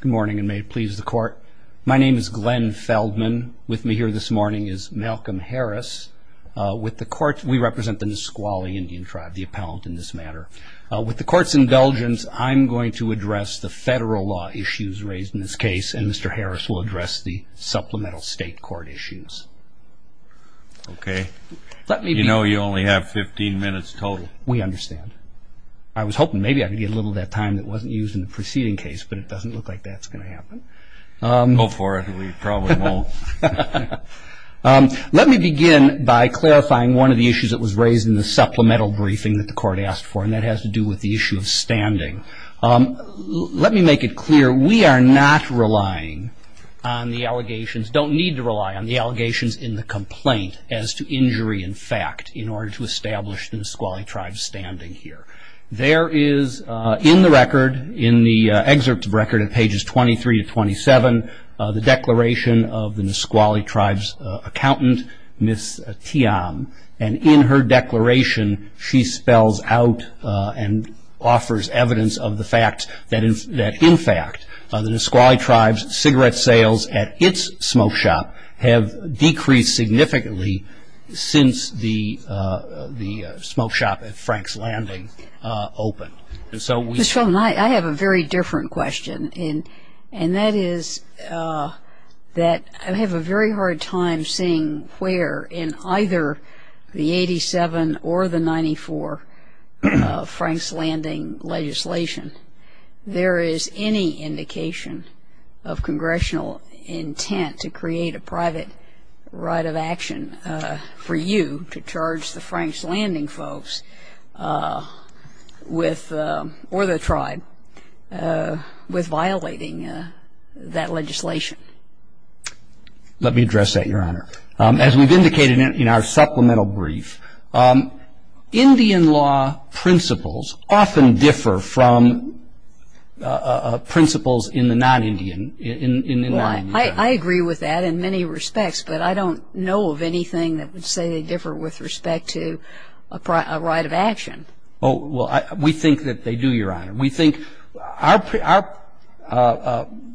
Good morning, and may it please the court. My name is Glenn Feldman. With me here this morning is Malcolm Harris. We represent the Nisqually Indian Tribe, the appellant in this matter. With the court's indulgence, I'm going to address the federal law issues raised in this case, and Mr. Harris will address the supplemental state court issues. You know you only have fifteen minutes total. We understand. I was hoping maybe I could get a little of that time that wasn't used in the preceding case, but it doesn't look like that's going to happen. Let me begin by clarifying one of the issues that was raised in the supplemental briefing that the court asked for, and that has to do with the issue of standing. Let me make it clear, we are not relying on the allegations, don't need to rely on the allegations in the complaint as to injury in fact, in order to establish the Nisqually Nisqually Tribe's cigarette sales at its smoke shop have decreased significantly since the smoke shop at Frank's Landing opened. Ms. Feldman, I have a very different question, and that is that I have a very hard time seeing where in either the 87 or the 94 Frank's Landing legislation there is any indication of congressional intent to create a private right of action for you to charge the Frank's Landing folks or the tribe with violating that legislation. Let me address that, Your Honor. As we've indicated in our supplemental brief, Indian law principles often differ from principles in the non-Indian. I agree with that in many respects, but I don't know of anything that would say they have a right of action. We think that they do, Your Honor. We think our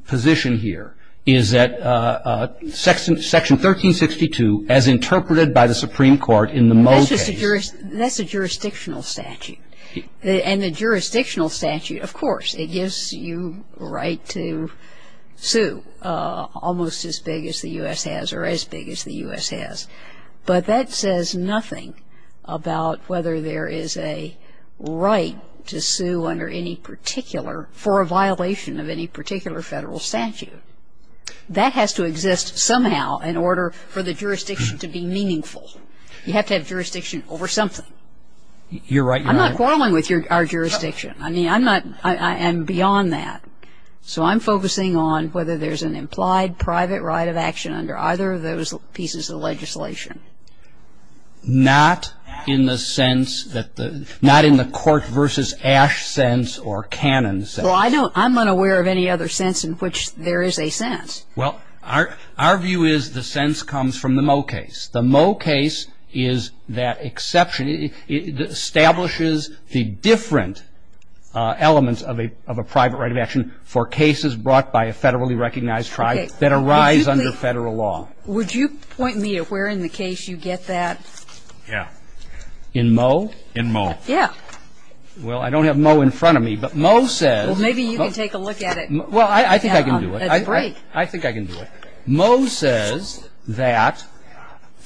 position here is that Section 1362, as interpreted by the Supreme Court in the Moe case That's a jurisdictional statute. And a jurisdictional statute, of course, it gives you the right to sue almost as big as the U.S. has or as big as the U.S. has. But that says nothing about whether there is a right to sue under any particular, for a violation of any particular federal statute. That has to exist somehow in order for the jurisdiction to be meaningful. You have to have jurisdiction over something. You're right, Your Honor. I'm not quarreling with our jurisdiction. I mean, I'm not beyond that. So I'm focusing on whether there's an implied private right of action under either of those pieces of legislation. Not in the sense that the, not in the court versus Ash sense or Cannon sense. Well, I know, I'm unaware of any other sense in which there is a sense. Well, our view is the sense comes from the Moe case. The Moe case is that exception. It establishes the different elements of a private right of action for cases brought by a federally recognized tribe that arise under federal law. Would you point me at where in the case you get that? Yeah. In Moe? In Moe. Yeah. Well, I don't have Moe in front of me, but Moe says Well, maybe you can take a look at it. Well, I think I can do it. That's great. I think I can do it. Moe says that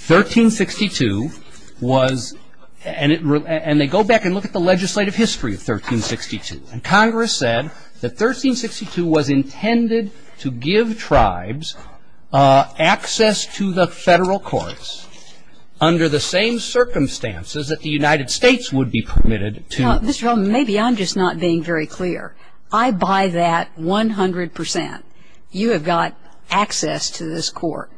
1362 was, and they go back and look at the legislative history of 1362. And Congress said that 1362 was intended to give tribes access to the federal courts under the same circumstances that the United States would be permitted to Now, Mr. Hellman, maybe I'm just not being very clear. I buy that 100%. You have got access to this court.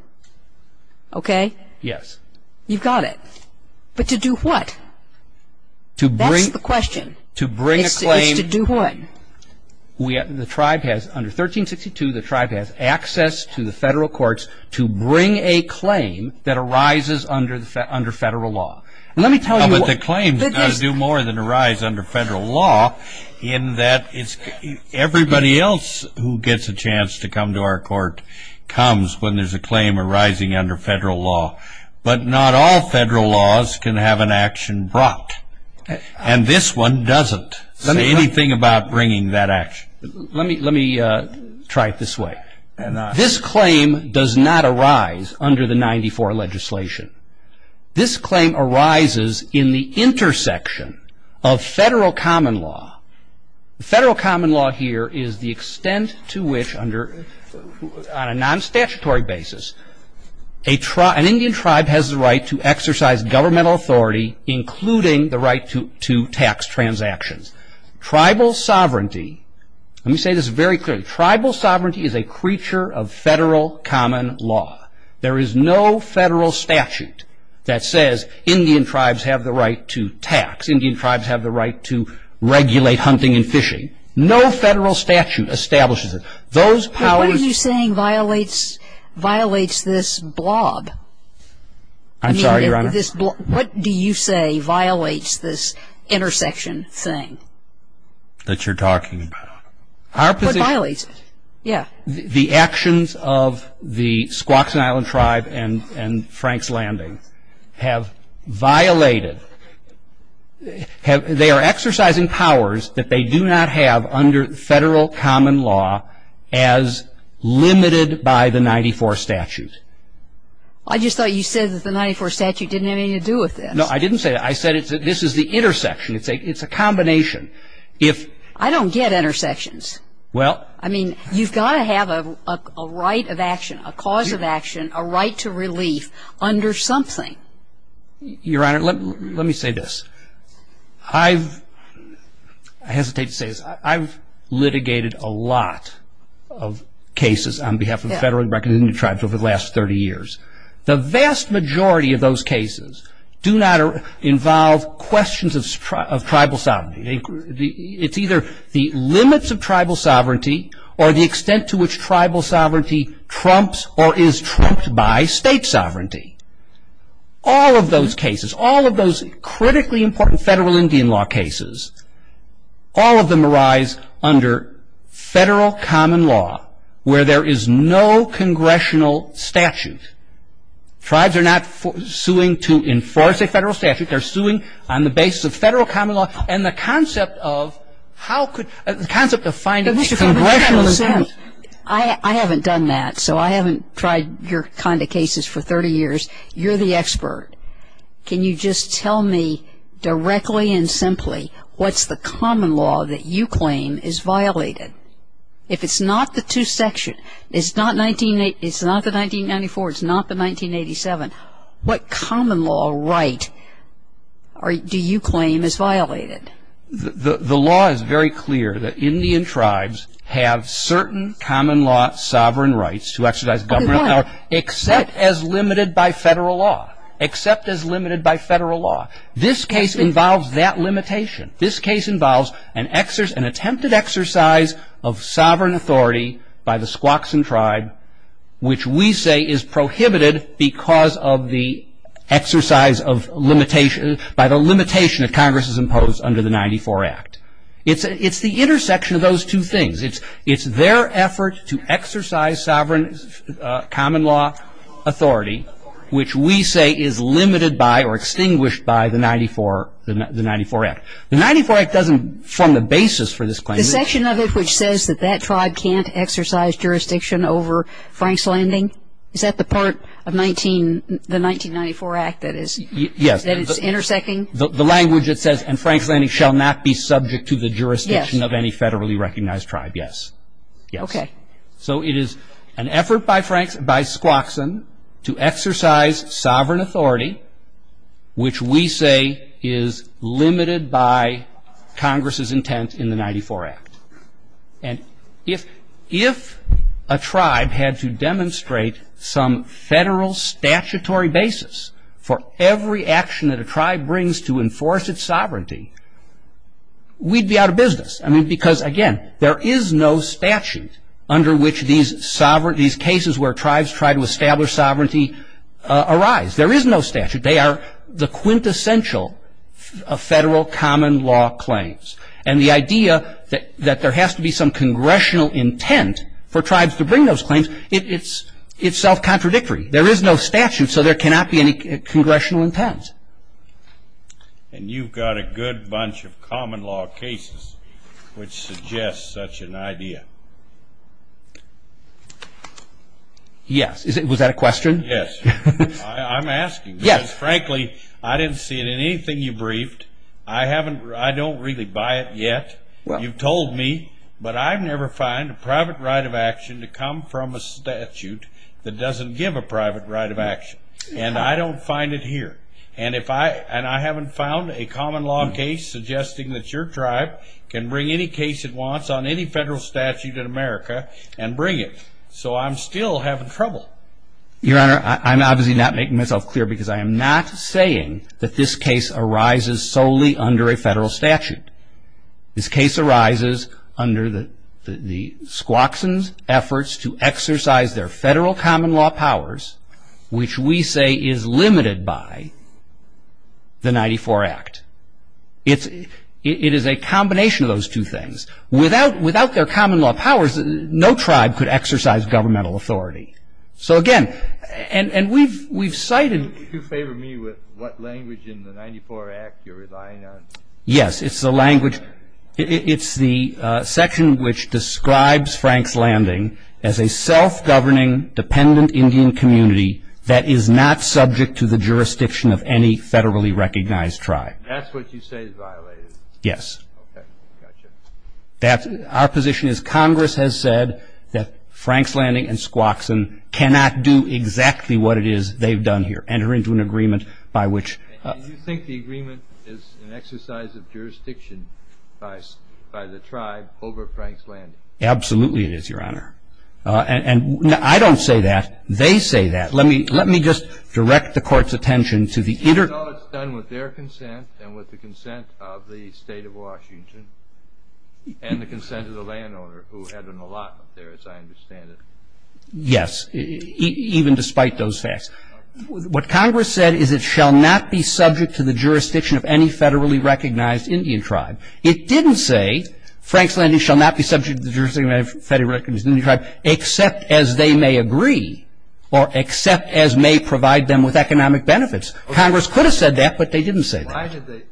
Okay? Yes. You've got it. But to do what? That's the question. To bring a claim Is to do what? The tribe has, under 1362, the tribe has access to the federal courts to bring a claim that arises under federal law. Let me tell you But the claims do more than arise under federal law in that everybody else who gets a chance to come to our court comes when there's a claim arising under federal law. But not all federal laws can have an action brought. And this one doesn't. Say anything about bringing that action. Let me try it this way. This claim does not arise under the 94 legislation. This claim arises in the intersection of federal common law. Federal common law here is the extent to which under, on a non-statutory basis, an Indian tribe has the right to exercise governmental authority, including the right to tax transactions. Tribal sovereignty, let me say this very clearly, tribal sovereignty is a creature of federal common law. There is no federal statute that says Indian tribes have the right to tax. Indian tribes have the right to regulate hunting and fishing. No federal statute establishes it. What are you saying violates this blob? I'm sorry, Your Honor? What do you say violates this intersection thing? That you're talking about? What violates it? The actions of the Squaxin Island tribe and Frank's Landing have violated, they are exercising powers that they do not have under federal common law as limited by the 94 statute. All I just thought you said that the 94 statute didn't have anything to do with this. No, I didn't say that. I said this is the intersection. It's a combination. I don't get intersections. I mean, you've got to have a right of action, a cause of action, a right to relief under something. Your Honor, let me say this. I hesitate to say this. I've litigated a lot of cases on the vast majority of those cases do not involve questions of tribal sovereignty. It's either the limits of tribal sovereignty or the extent to which tribal sovereignty trumps or is trumped by state sovereignty. All of those cases, all of those critically important federal Indian law cases, all of them arise under federal common law where there is no congressional statute. Tribes are not suing to enforce a federal statute. They're suing on the basis of federal common law. And the concept of how could the concept of finding congressional statute. I haven't done that. So I haven't tried your kind of cases for 30 years. You're the expert. Can you just tell me directly and simply what's the common law that you claim is violated? If it's not the two section, it's not the 1994, it's not the 1987, what common law right do you claim is violated? The law is very clear that Indian tribes have certain common law sovereign rights to exercise government except as limited by federal law. Except as limited by federal law. This case involves that limitation. This case involves an attempted exercise of sovereign authority by the Squaxin tribe which we say is prohibited because of the exercise of limitation by the limitation that Congress has imposed under the 94 Act. It's the intersection of those two things. It's their effort to exercise sovereign common law authority which we say is limited by or extinguished by the 94 Act. The 94 Act doesn't form the basis for this claim. The section of it which says that that tribe can't exercise jurisdiction over Frank's Landing? Is that the part of the 1994 Act that it's intersecting? The language it says and Frank's Landing shall not be subject to the jurisdiction of any federally recognized tribe, yes. Okay. So it is an effort by Squaxin to exercise sovereign authority which we say is limited by Congress's intent in the 94 Act. And if a tribe had to demonstrate some federal statutory basis for every action that a tribe brings to enforce its sovereignty, we'd be out of statute under which these cases where tribes try to establish sovereignty arise. There is no statute. They are the quintessential federal common law claims. And the idea that there has to be some congressional intent for tribes to bring those claims, it's self-contradictory. There is no statute, so there cannot be any congressional intent. And you've got a good bunch of common law cases which suggest such an idea. Yes. Was that a question? Yes. I'm asking because frankly I didn't see it in anything you briefed. I don't really buy it yet. You've told me, but I've never found a private right of action to come from a statute that doesn't give a private right of action. And I don't find it here. And I haven't found a common law case suggesting that your tribe can bring any case it wants on any federal statute in America and bring it. So I'm still having trouble. Your Honor, I'm obviously not making myself clear because I am not saying that this case arises solely under a federal statute. This case arises under the Squaxin's efforts to exercise their federal common law powers, which we say is limited by the 94 Act. It is a combination of those two things. Without their common law powers, no tribe could exercise governmental authority. So again, and we've cited... Could you favor me with what language in the 94 Act you're relying on? Yes. It's the language... It's the section which describes Franks Landing as a self-governing dependent Indian community that is not subject to the jurisdiction of any federally recognized tribe. That's what you say is violated? Yes. Our position is Congress has said that Franks Landing and Squaxin cannot do exactly what it is they've done here, enter into an agreement by which... Do you think the agreement is an exercise of jurisdiction by the tribe over Franks Landing? Absolutely it is, Your Honor. And I don't say that. They say that. Let me just direct the Court's attention to the... It's all done with their consent and with the consent of the State of Washington and the consent of the landowner, who had an allotment there, as I understand it. Yes, even despite those facts. What Congress said is it shall not be subject to the jurisdiction of any federally recognized Indian tribe. It didn't say Franks Landing shall not be subject to the jurisdiction of any federally recognized Indian tribe, except as they may agree or except as may provide them with economic benefits. Congress could have said that, but they didn't say that. Why did they...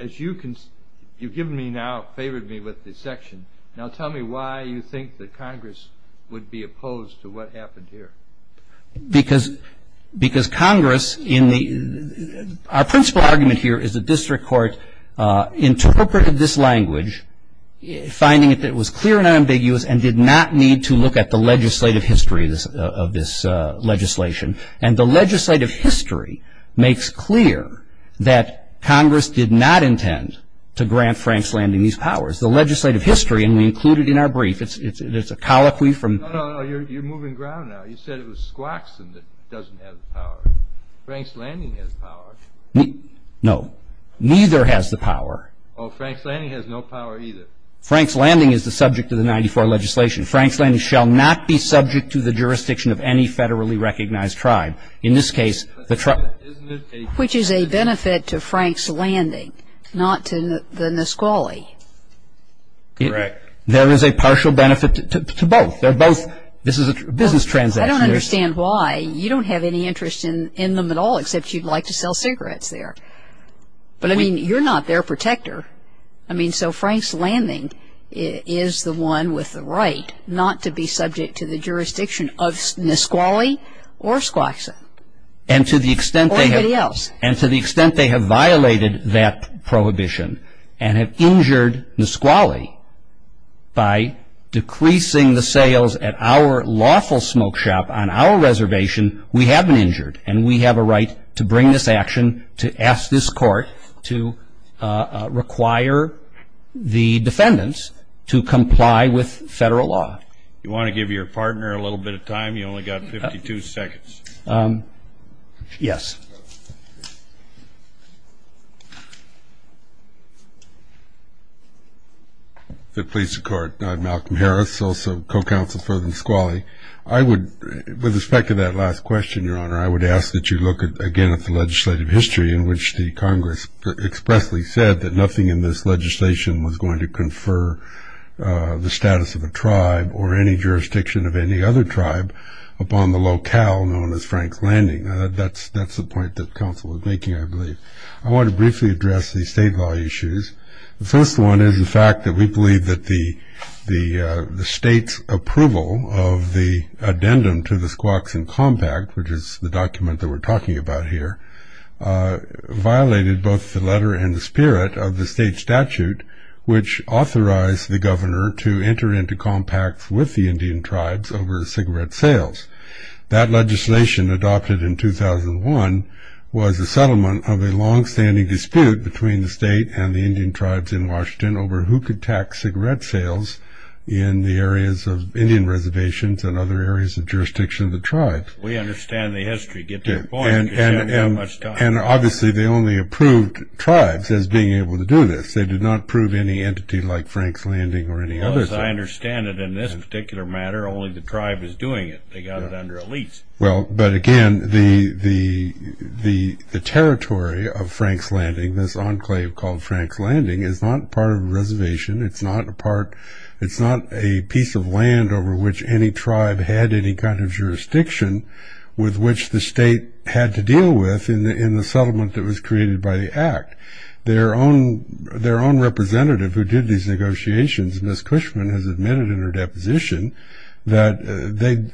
As you've given me now, favored me with this section, now tell me why you would be opposed to what happened here? Because Congress in the... Our principal argument here is the District Court interpreted this language, finding it that it was clear and unambiguous, and did not need to look at the legislative history of this legislation. And the legislative history makes clear that Congress did not intend to grant Franks Landing these powers. The legislative history, and we include it in our brief, it's a colloquy from... No, no, you're moving ground now. You said it was Squaxin that doesn't have the power. Franks Landing has power. No, neither has the power. Oh, Franks Landing has no power either. Franks Landing is the subject of the 94 legislation. Franks Landing shall not be subject to the jurisdiction of any federally recognized tribe. In this case, the tribe... Which is a benefit to Franks Landing, not to the Nisqually. Correct. There is a partial benefit to both. They're both... This is a business transaction. I don't understand why. You don't have any interest in them at all, except you'd like to sell cigarettes there. But, I mean, you're not their protector. I mean, so Franks Landing is the one with the right not to be subject to the jurisdiction of Nisqually or Squaxin. Or anybody else. ...and have injured Nisqually by decreasing the sales at our lawful smoke shop on our reservation, we have been injured. And we have a right to bring this action to ask this court to require the defendants to comply with federal law. You want to give your partner a little bit of time? You've only got 52 seconds. Yes. If it pleases the court, I'm Malcolm Harris, also co-counsel for Nisqually. I would, with respect to that last question, Your Honor, I would ask that you look again at the legislative history in which the Congress expressly said that nothing in this legislation was going to confer the status of a tribe or any jurisdiction of any other tribe upon the locale known as Franks Landing. That's the point that counsel was making, I believe. I want to briefly address these state law issues. The first one is the fact that we believe that the state's approval of the addendum to the Squaxin Compact, which is the document that we're talking about here, violated both the letter and the spirit of the state statute which authorized the governor to enter into compacts with the Indian tribes over cigarette sales. That legislation adopted in 2001 was a settlement of a longstanding dispute between the state and the Indian tribes in Washington over who could tax cigarette sales in the areas of Indian reservations and other areas of jurisdiction of the tribe. We understand the history. Get to the point. You don't have much time. And obviously they only approved tribes as being able to do this. They did not approve any entity like Franks Landing or any other thing. As I understand it in this particular matter, only the tribe is doing it. They got it under a lease. Well, but again, the territory of Franks Landing, this enclave called Franks Landing, is not part of a reservation. It's not a piece of land over which any tribe had any kind of jurisdiction with which the state had to deal with in the settlement that was created by the act. Their own representative who did these negotiations, Ms. Cushman, has admitted in her deposition that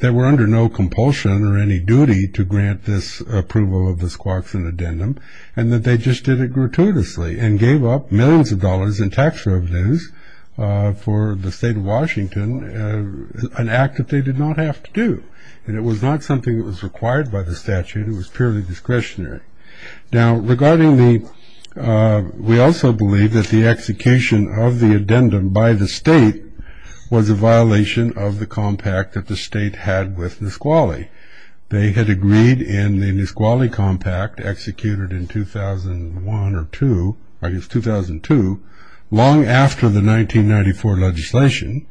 they were under no compulsion or any duty to grant this approval of the Squaxin addendum and that they just did it gratuitously and gave up millions of dollars in tax revenues for the state of Washington, an act that they did not have to do. And it was not something that was required by the statute. It was purely discretionary. Now, regarding the, we also believe that the execution of the addendum by the state was a violation of the compact that the state had with Nisqually. They had agreed in the Nisqually compact executed in 2001 or 2, I guess 2002, long after the 1994 legislation,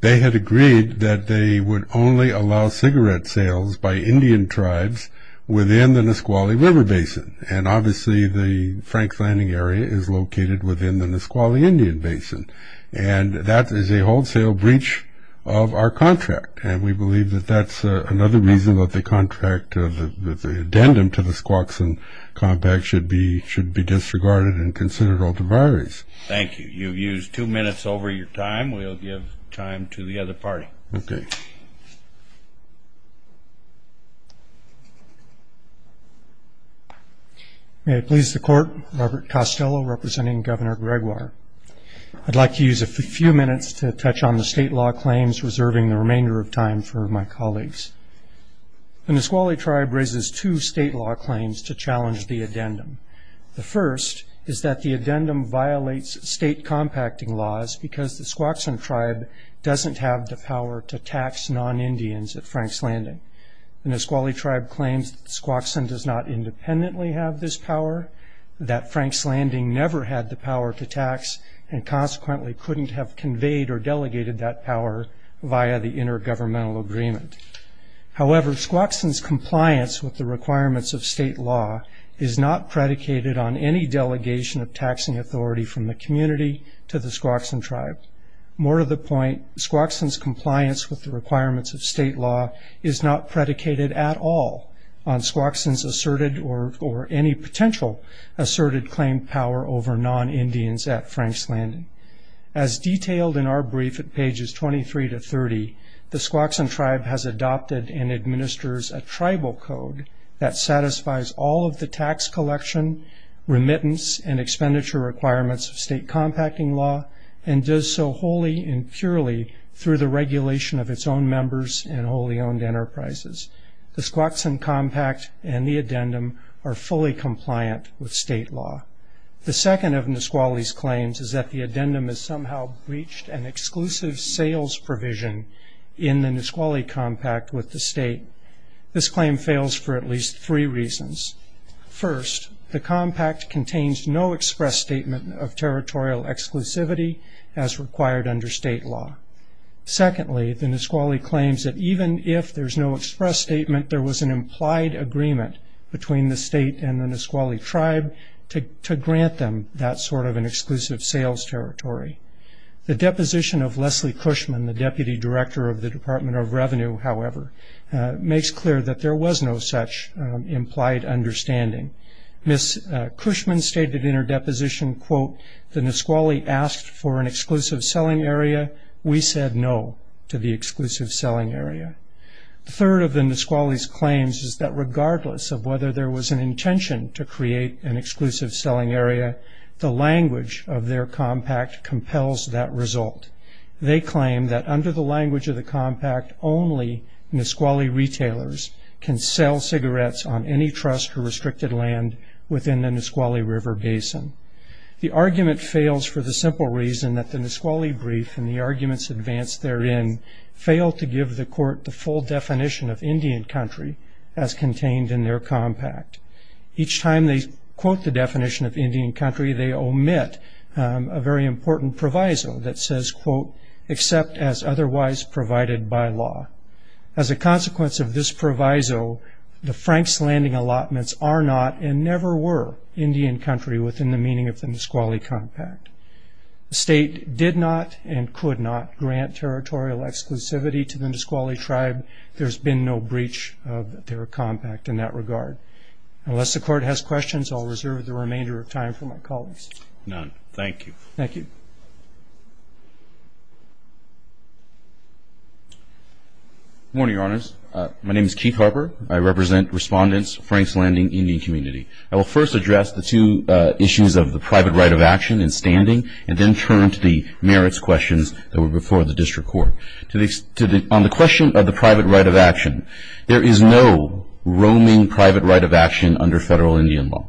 they had agreed that they would only allow cigarette sales by Indian tribes within the Nisqually River Basin. And obviously, the Franks Landing area is located within the Nisqually Indian Basin. And that is a wholesale breach of our contract. And we believe that that's another reason that the contract of the addendum to the Squaxin compact should be disregarded and considered alter priorities. Thank you. You've used two minutes over your time. We'll give time to the other party. Okay. May it please the court, Robert Costello, representing Governor Gregoire. I'd like to use a few minutes to touch on the state law claims, reserving the remainder of time for my colleagues. The Nisqually tribe raises two state law claims to challenge the addendum. The first is that the addendum violates state compacting laws because the Squaxin tribe doesn't have the power to tax non-Indians at Franks Landing. The Nisqually tribe claims Squaxin does not independently have this power, that Franks Landing never had the power to tax, and consequently couldn't have conveyed or delegated that power via the intergovernmental agreement. However, Squaxin's compliance with the requirements of state law is not predicated on any delegation of taxing authority from the community to the Squaxin tribe. More to the point, Squaxin's compliance with the requirements of state law is not predicated at all on Squaxin's asserted or any potential asserted claim power over non-Indians at Franks Landing. As detailed in our brief at pages 23 to 30, the Squaxin tribe has adopted and administers a tribal code that satisfies all of the tax collection, remittance, and expenditure requirements of state compacting law, and does so wholly and purely through the regulation of its own members and wholly owned enterprises. The Squaxin compact and the addendum are fully compliant with state law. The second of Nisqually's claims is that the addendum has somehow breached an exclusive sales provision in the Nisqually compact with the state. This claim fails for at least three reasons. First, the compact contains no express statement of territorial exclusivity as required under state law. Secondly, the Nisqually claims that even if there's no express statement, there was an implied agreement between the state and the Nisqually tribe to grant them that sort of an exclusive sales territory. The deposition of Leslie Cushman, the deputy director of the Department of Revenue, however, makes clear that there was no such implied understanding. Ms. Cushman stated in her deposition, quote, the Nisqually asked for an exclusive selling area. We said no to the exclusive selling area. The third of the Nisqually's claims is that regardless of whether there was an intention to create an exclusive selling area, the language of their compact compels that result. They claim that under the language of the compact, only Nisqually retailers can sell cigarettes on any trust or restricted land within the Nisqually River Basin. The argument fails for the simple reason that the Nisqually brief and the arguments advanced therein fail to give the court the full definition of Indian country as contained in their compact. Each time they quote the definition of Indian country, they omit a very important proviso that says, quote, except as otherwise provided by law. As a consequence of this proviso, the Franks Landing allotments are not and never were Indian country within the meaning of the Nisqually compact. The state did not and could not grant territorial exclusivity to the Nisqually tribe. There's been no breach of their compact in that regard. Unless the court has questions, I'll reserve the remainder of time for my colleagues. None. Thank you. Thank you. Good morning, Your Honors. My name is Keith Harper. I represent respondents, Franks Landing Indian community. I will first address the two issues of the private right of action in standing and then turn to the merits questions that were before the district court. On the question of the private right of action, there is no roaming private right of action under federal Indian law.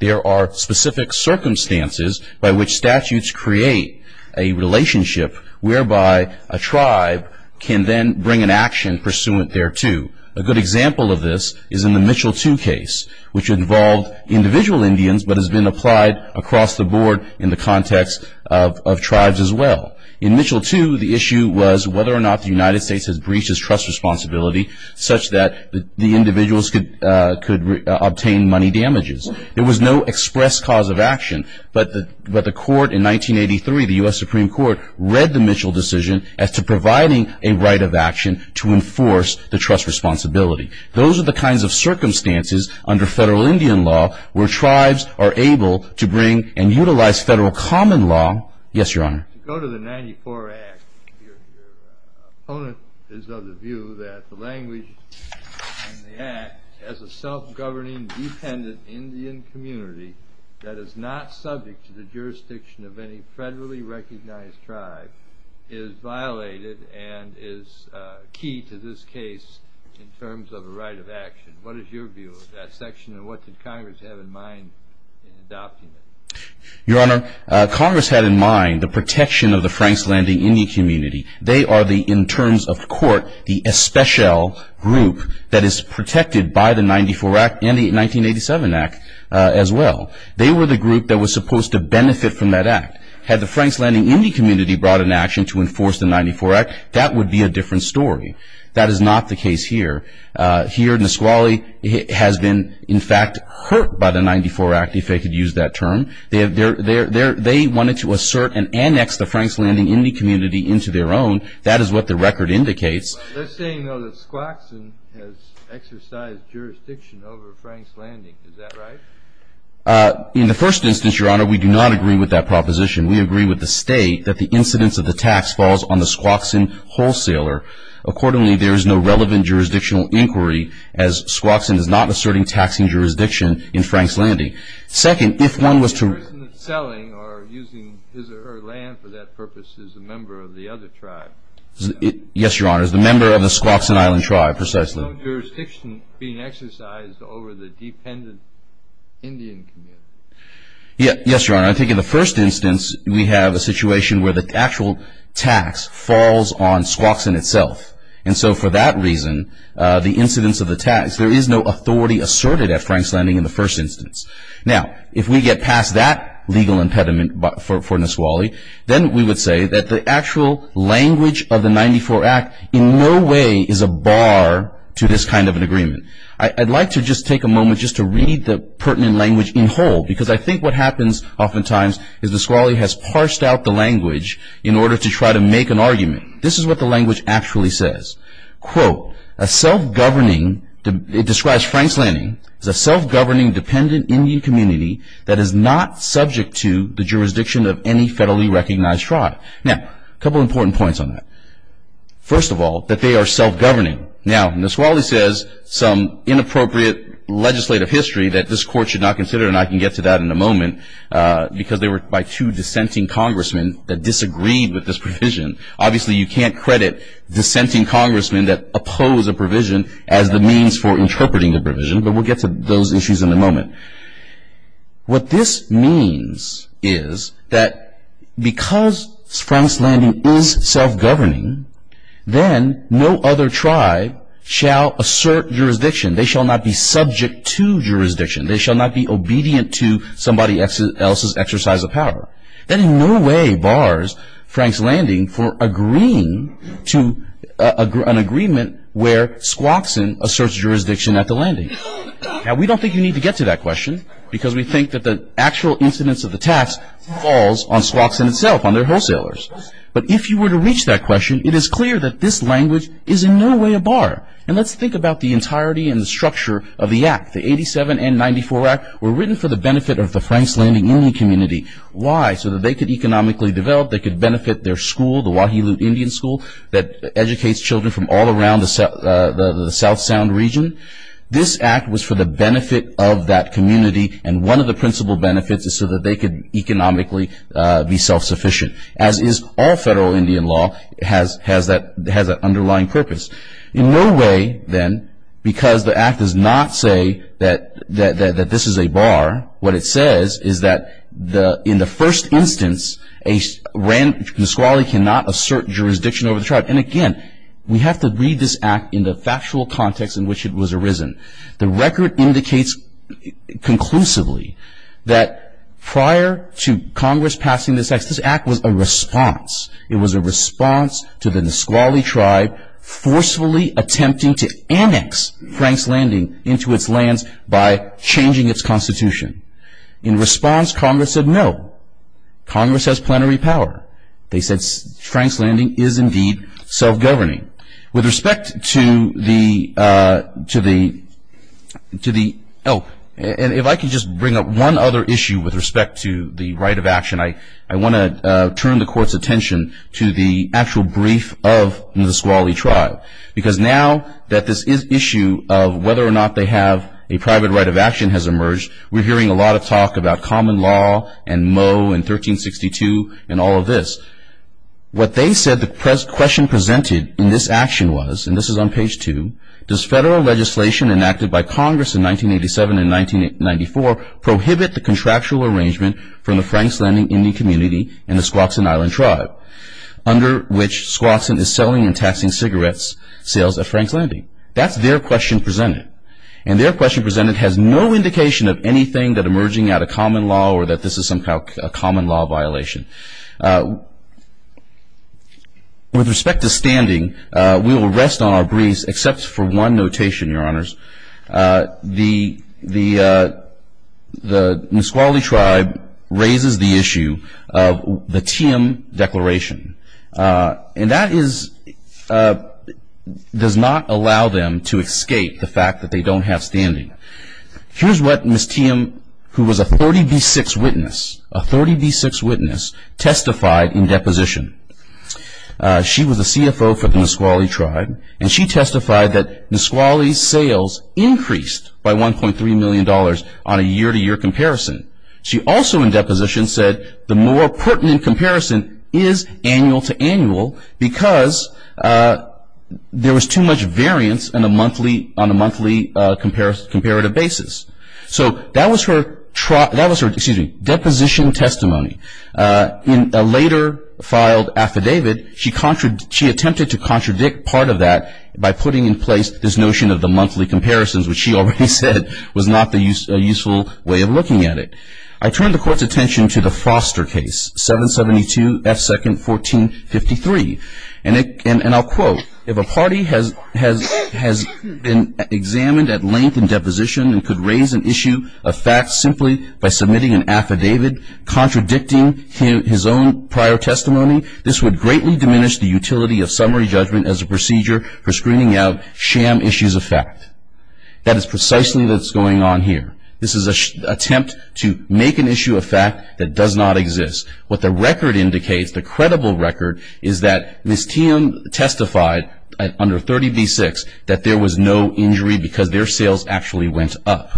There are specific circumstances by which statutes create a relationship whereby a tribe can then bring an action pursuant thereto. A good example of this is in the Mitchell II case, which involved individual Indians but has been applied across the board in the context of tribes as well. In Mitchell II, the issue was whether or not the United States has breached its trust responsibility such that the individuals could obtain money damages. There was no expressed cause of action, but the court in 1983, the U.S. Supreme Court, read the Mitchell decision as to providing a right of action to enforce the trust responsibility. Those are the kinds of circumstances under federal Indian law where tribes are able to bring and utilize federal common law. Yes, Your Honor. To go to the 1994 Act, your opponent is of the view that the language in the Act has a self-governing independent Indian community that is not subject to the jurisdiction of any federally recognized tribe is violated and is key to this case in terms of a right of action. What is your view of that section and what did Congress have in mind in adopting it? Your Honor, Congress had in mind the protection of the Franks Landing Indian community. They are, in terms of 1987 Act as well. They were the group that was supposed to benefit from that Act. Had the Franks Landing Indian community brought an action to enforce the 1994 Act, that would be a different story. That is not the case here. Here, Nisqually has been, in fact, hurt by the 1994 Act, if I could use that term. They wanted to assert and annex the Franks Landing Indian community into their own. That is what the record indicates. They are saying, though, that Squaxin has exercised jurisdiction over Franks Landing. Is that right? In the first instance, Your Honor, we do not agree with that proposition. We agree with the State that the incidence of the tax falls on the Squaxin wholesaler. Accordingly, there is no relevant jurisdictional inquiry as Squaxin is not asserting taxing jurisdiction in Franks Landing. Second, if one was to The person selling or using his or her land for that purpose is a member of the other tribe. Yes, Your Honor, is a member of the Squaxin Island tribe, precisely. There is no jurisdiction being exercised over the dependent Indian community. Yes, Your Honor. I think in the first instance, we have a situation where the actual tax falls on Squaxin itself. And so, for that reason, the incidence of the tax, there is no authority asserted at Franks Landing in the first instance. Now, if we get past that legal impediment for Nisqually, then we would say that the actual language of the 94 Act in no way is a bar to this kind of an agreement. I'd like to just take a moment just to read the pertinent language in whole because I think what happens oftentimes is Nisqually has parsed out the language in order to try to make an argument. This is what the language actually says. Quote, a self-governing, it describes Franks Landing, as a self-governing dependent Indian community that is not subject to the jurisdiction of any federally recognized tribe. Now, a couple of important points on that. First of all, that they are self-governing. Now, Nisqually says some inappropriate legislative history that this court should not consider, and I can get to that in a moment, because they were by two dissenting congressmen that disagreed with this provision. Obviously, you can't credit dissenting congressmen that oppose a provision as the means for interpreting the provision, but we'll get to those issues in a moment. What this means is that because Franks Landing is self-governing, then no other tribe shall assert jurisdiction. They shall not be subject to jurisdiction. They shall not be obedient to somebody else's exercise of power. That in no way bars Franks Landing from agreeing to an agreement where Squaxin asserts jurisdiction at the landing. Now, we don't think you need to get to that question, because we think that the actual incidence of the tax falls on Squaxin itself, on their wholesalers. But if you were to reach that question, it is clear that this language is in no way a bar. And let's think about the entirety and the structure of the Act. The 87 and 94 Act were written for the benefit of the Franks Landing Indian community. Why? So that they could economically develop, they could benefit their school, the Wahilu Indian School, that educates children from all around the South Sound region. This Act was for the benefit of that community, and one of the principal benefits is so that they could economically be self-sufficient, as is all federal Indian law has that underlying purpose. In no way, then, because the Act does not say that this is a bar, what it says is that in the first instance, Nisqually cannot assert jurisdiction over the tribe. And again, we have to read this Act in the factual context in which it was arisen. The record indicates conclusively that prior to Congress passing this Act, this Act was a response. It was a response to the Nisqually tribe forcefully attempting to annex Franks Landing into its lands by changing its constitution. In response, Congress said no. Congress has plenary power. They said Franks Landing is indeed self-governing. With respect to the, oh, and if I could just bring up one other issue with respect to the right of action, I want to turn the Court's attention to the actual brief of the Nisqually tribe. Because now that this issue of whether or not they have a private right of action has emerged, we're hearing a lot of talk about common law and Moe in 1362 and all of this. What they said the question presented in this action was, and this is on page 2, does federal legislation enacted by Congress in 1987 and 1994 prohibit the contractual arrangement from the Franks Landing Indian community and the Squaxin Island tribe, under which Squaxin is selling and taxing cigarettes sales at Franks Landing? That's their question presented. And their question presented has no indication of anything that emerging out of common law or that this is somehow a common law violation. With respect to standing, we will rest on our briefs except for one notation, Your Honors. The Nisqually tribe raises the issue of the TM declaration, and that does not allow them to escape the fact that they don't have standing. Here's what Ms. TM, who was a 30B6 witness, a 30B6 witness, testified in deposition. She was a CFO for the Nisqually tribe, and she testified that Nisqually's sales increased by $1.3 million on a year-to-year comparison. She also in deposition said the more pertinent comparison is annual-to-annual because there was too much variance on a monthly comparative basis. So that was her deposition testimony. In a later filed affidavit, she attempted to contradict part of that by putting in place this notion of the monthly comparisons, which she already said was not a useful way of looking at it. I turn the Court's attention to the Foster case, 772 F. 2nd, 1453. And I'll quote, if a party has been examined at length in deposition and could raise an issue of facts simply by submitting an affidavit contradicting his own prior testimony, this would greatly diminish the utility of summary judgment as a procedure for screening out sham issues of fact. That is precisely what's going on here. This is an attempt to make an issue of fact that does not exist. What the record indicates, the credible record, is that Ms. TM testified under 30B6 that there was no injury because their sales actually went up.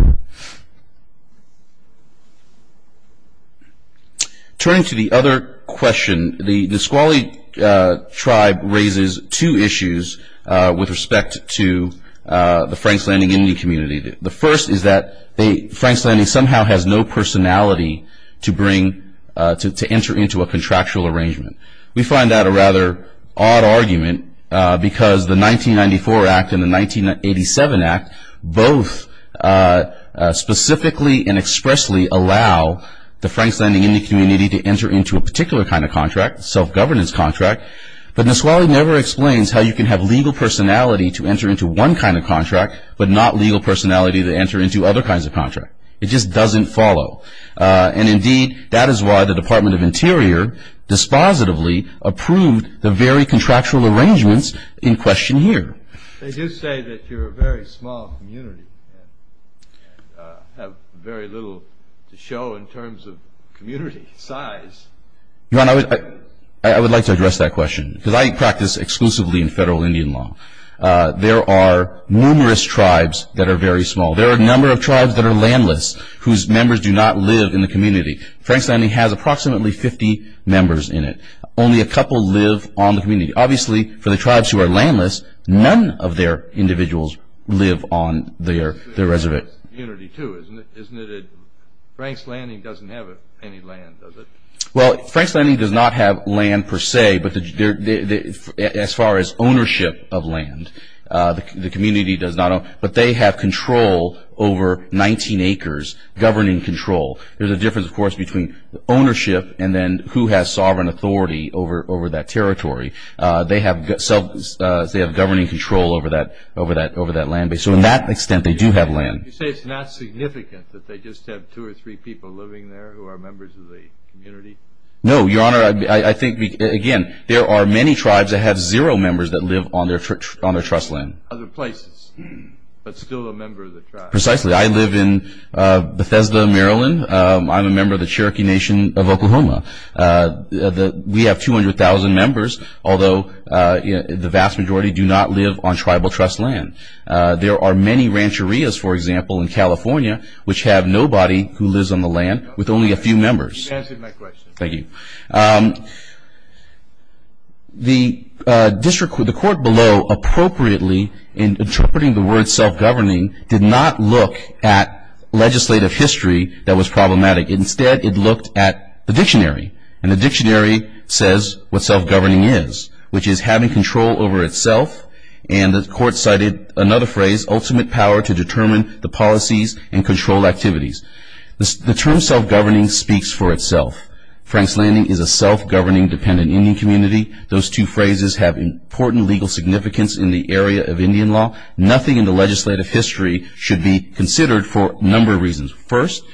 Turning to the other question, the Squalic tribe raises two issues with respect to the Franks Landing Indian community. The first is that Franks Landing somehow has no personality to bring, to enter into a contractual arrangement. We find that a rather odd argument because the 1994 Act and the 1987 Act both specifically and expressly allow the Franks Landing Indian community to enter into a particular kind of contract, self-governance contract. But Ms. Squalic never explains how you can have legal personality to enter into one kind of contract, but not legal personality to enter into other kinds of contract. It just doesn't follow. And indeed, that is why the Department of Interior dispositively approved the very contractual arrangements in question here. They do say that you're a very small community and have very little to show in terms of community size. Your Honor, I would like to address that question because I practice exclusively in federal Indian law. There are numerous tribes that are very small. There are a number of tribes that are landless, whose members do not live in the community. Franks Landing has approximately 50 members in it. Only a couple live on the community. Obviously, for the tribes who are landless, none of their individuals live on their reservation. Franks Landing doesn't have any land, does it? Well, Franks Landing does not have land per se, as far as ownership of land. But they have control over 19 acres, governing control. There's a difference, of course, between ownership and then who has sovereign authority over that territory. They have governing control over that land. You say it's not significant that they just have two or three people living there who are members of the community? No, Your Honor, I think, again, there are many tribes that have zero members that live on their trust land. Other places, but still a member of the tribe. Precisely. I live in Bethesda, Maryland. I'm a member of the Cherokee Nation of Oklahoma. We have 200,000 members, although the vast majority do not live on tribal trust land. There are many rancherias, for example, in California, which have nobody who lives on the land with only a few members. You answered my question. Thank you. The court below appropriately in interpreting the word self-governing did not look at legislative history that was problematic. Instead, it looked at the dictionary. And the dictionary says what self-governing is, which is having control over itself. And the court cited another phrase, ultimate power to determine the policies and control activities. The term self-governing speaks for itself. Frank's Landing is a self-governing dependent Indian community. Those two phrases have important legal significance in the area of Indian law. Nothing in the legislative history should be considered for a number of reasons. First,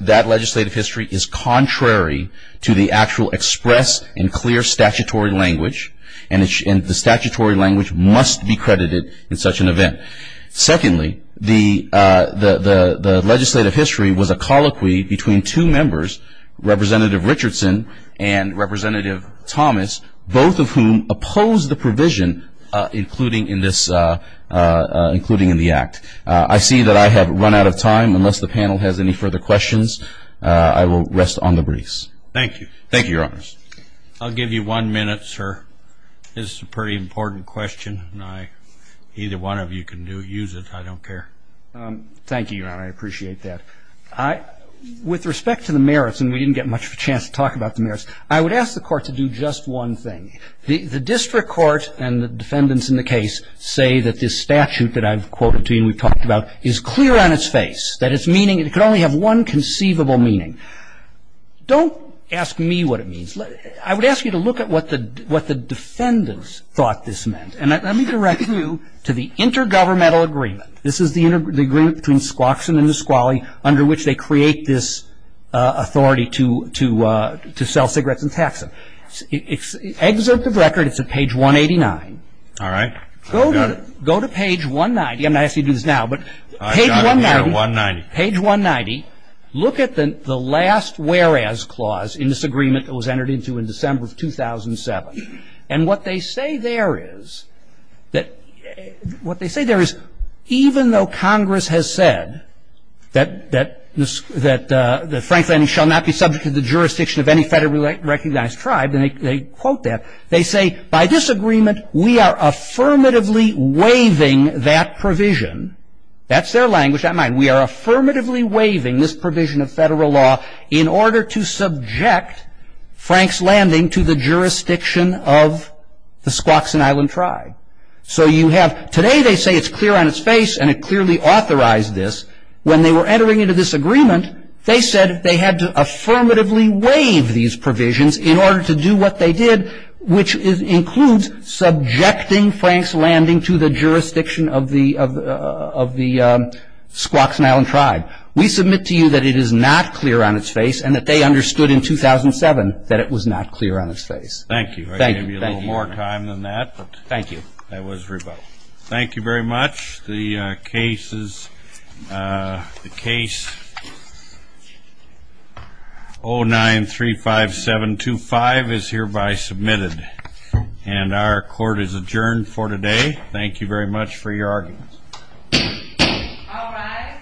that legislative history is contrary to the actual express and clear statutory language. And the statutory language must be credited in such an event. Secondly, the legislative history was a colloquy between two members, Representative Richardson and Representative Thomas, both of whom opposed the provision including in this act. I see that I have run out of time. Unless the panel has any further questions, I will rest on the briefs. Thank you. Thank you, Your Honors. I'll give you one minute, sir. This is a pretty important question. Either one of you can use it. I don't care. Thank you, Your Honor. I appreciate that. With respect to the merits, and we didn't get much of a chance to talk about the merits, I would ask the court to do just one thing. The district court and the defendants in the case say that this statute that I've quoted to you and we've talked about is clear on its face, that it's meaning it could only have one conceivable meaning. Don't ask me what it means. I would ask you to look at what the defendants thought this meant. And let me direct you to the intergovernmental agreement. This is the agreement between Squaxin and Nisqually under which they create this authority to sell cigarettes and tax them. It's excerpt of record. It's at page 189. All right. I've got it. Go to page 190. I'm not asking you to do this now, but page 190. I've got it here at 190. Page 190. Look at the last whereas clause in this agreement that was entered into in December of 2007. And what they say there is even though Congress has said that Franklin shall not be subject to the jurisdiction of any federally recognized tribe, and they quote that, they say by this agreement we are affirmatively waiving that provision. That's their language, not mine. We are affirmatively waiving this provision of federal law in order to subject Frank's Landing to the jurisdiction of the Squaxin Island tribe. So you have today they say it's clear on its face and it clearly authorized this. When they were entering into this agreement, they said they had to affirmatively waive these provisions in order to do what they did, which includes subjecting Frank's Landing to the jurisdiction of the Squaxin Island tribe. We submit to you that it is not clear on its face and that they understood in 2007 that it was not clear on its face. Thank you. Thank you. I gave you a little more time than that. Thank you. That was rebuttal. Thank you very much. The case 09-35725 is hereby submitted, and our court is adjourned for today. Thank you very much for your arguments. All rise.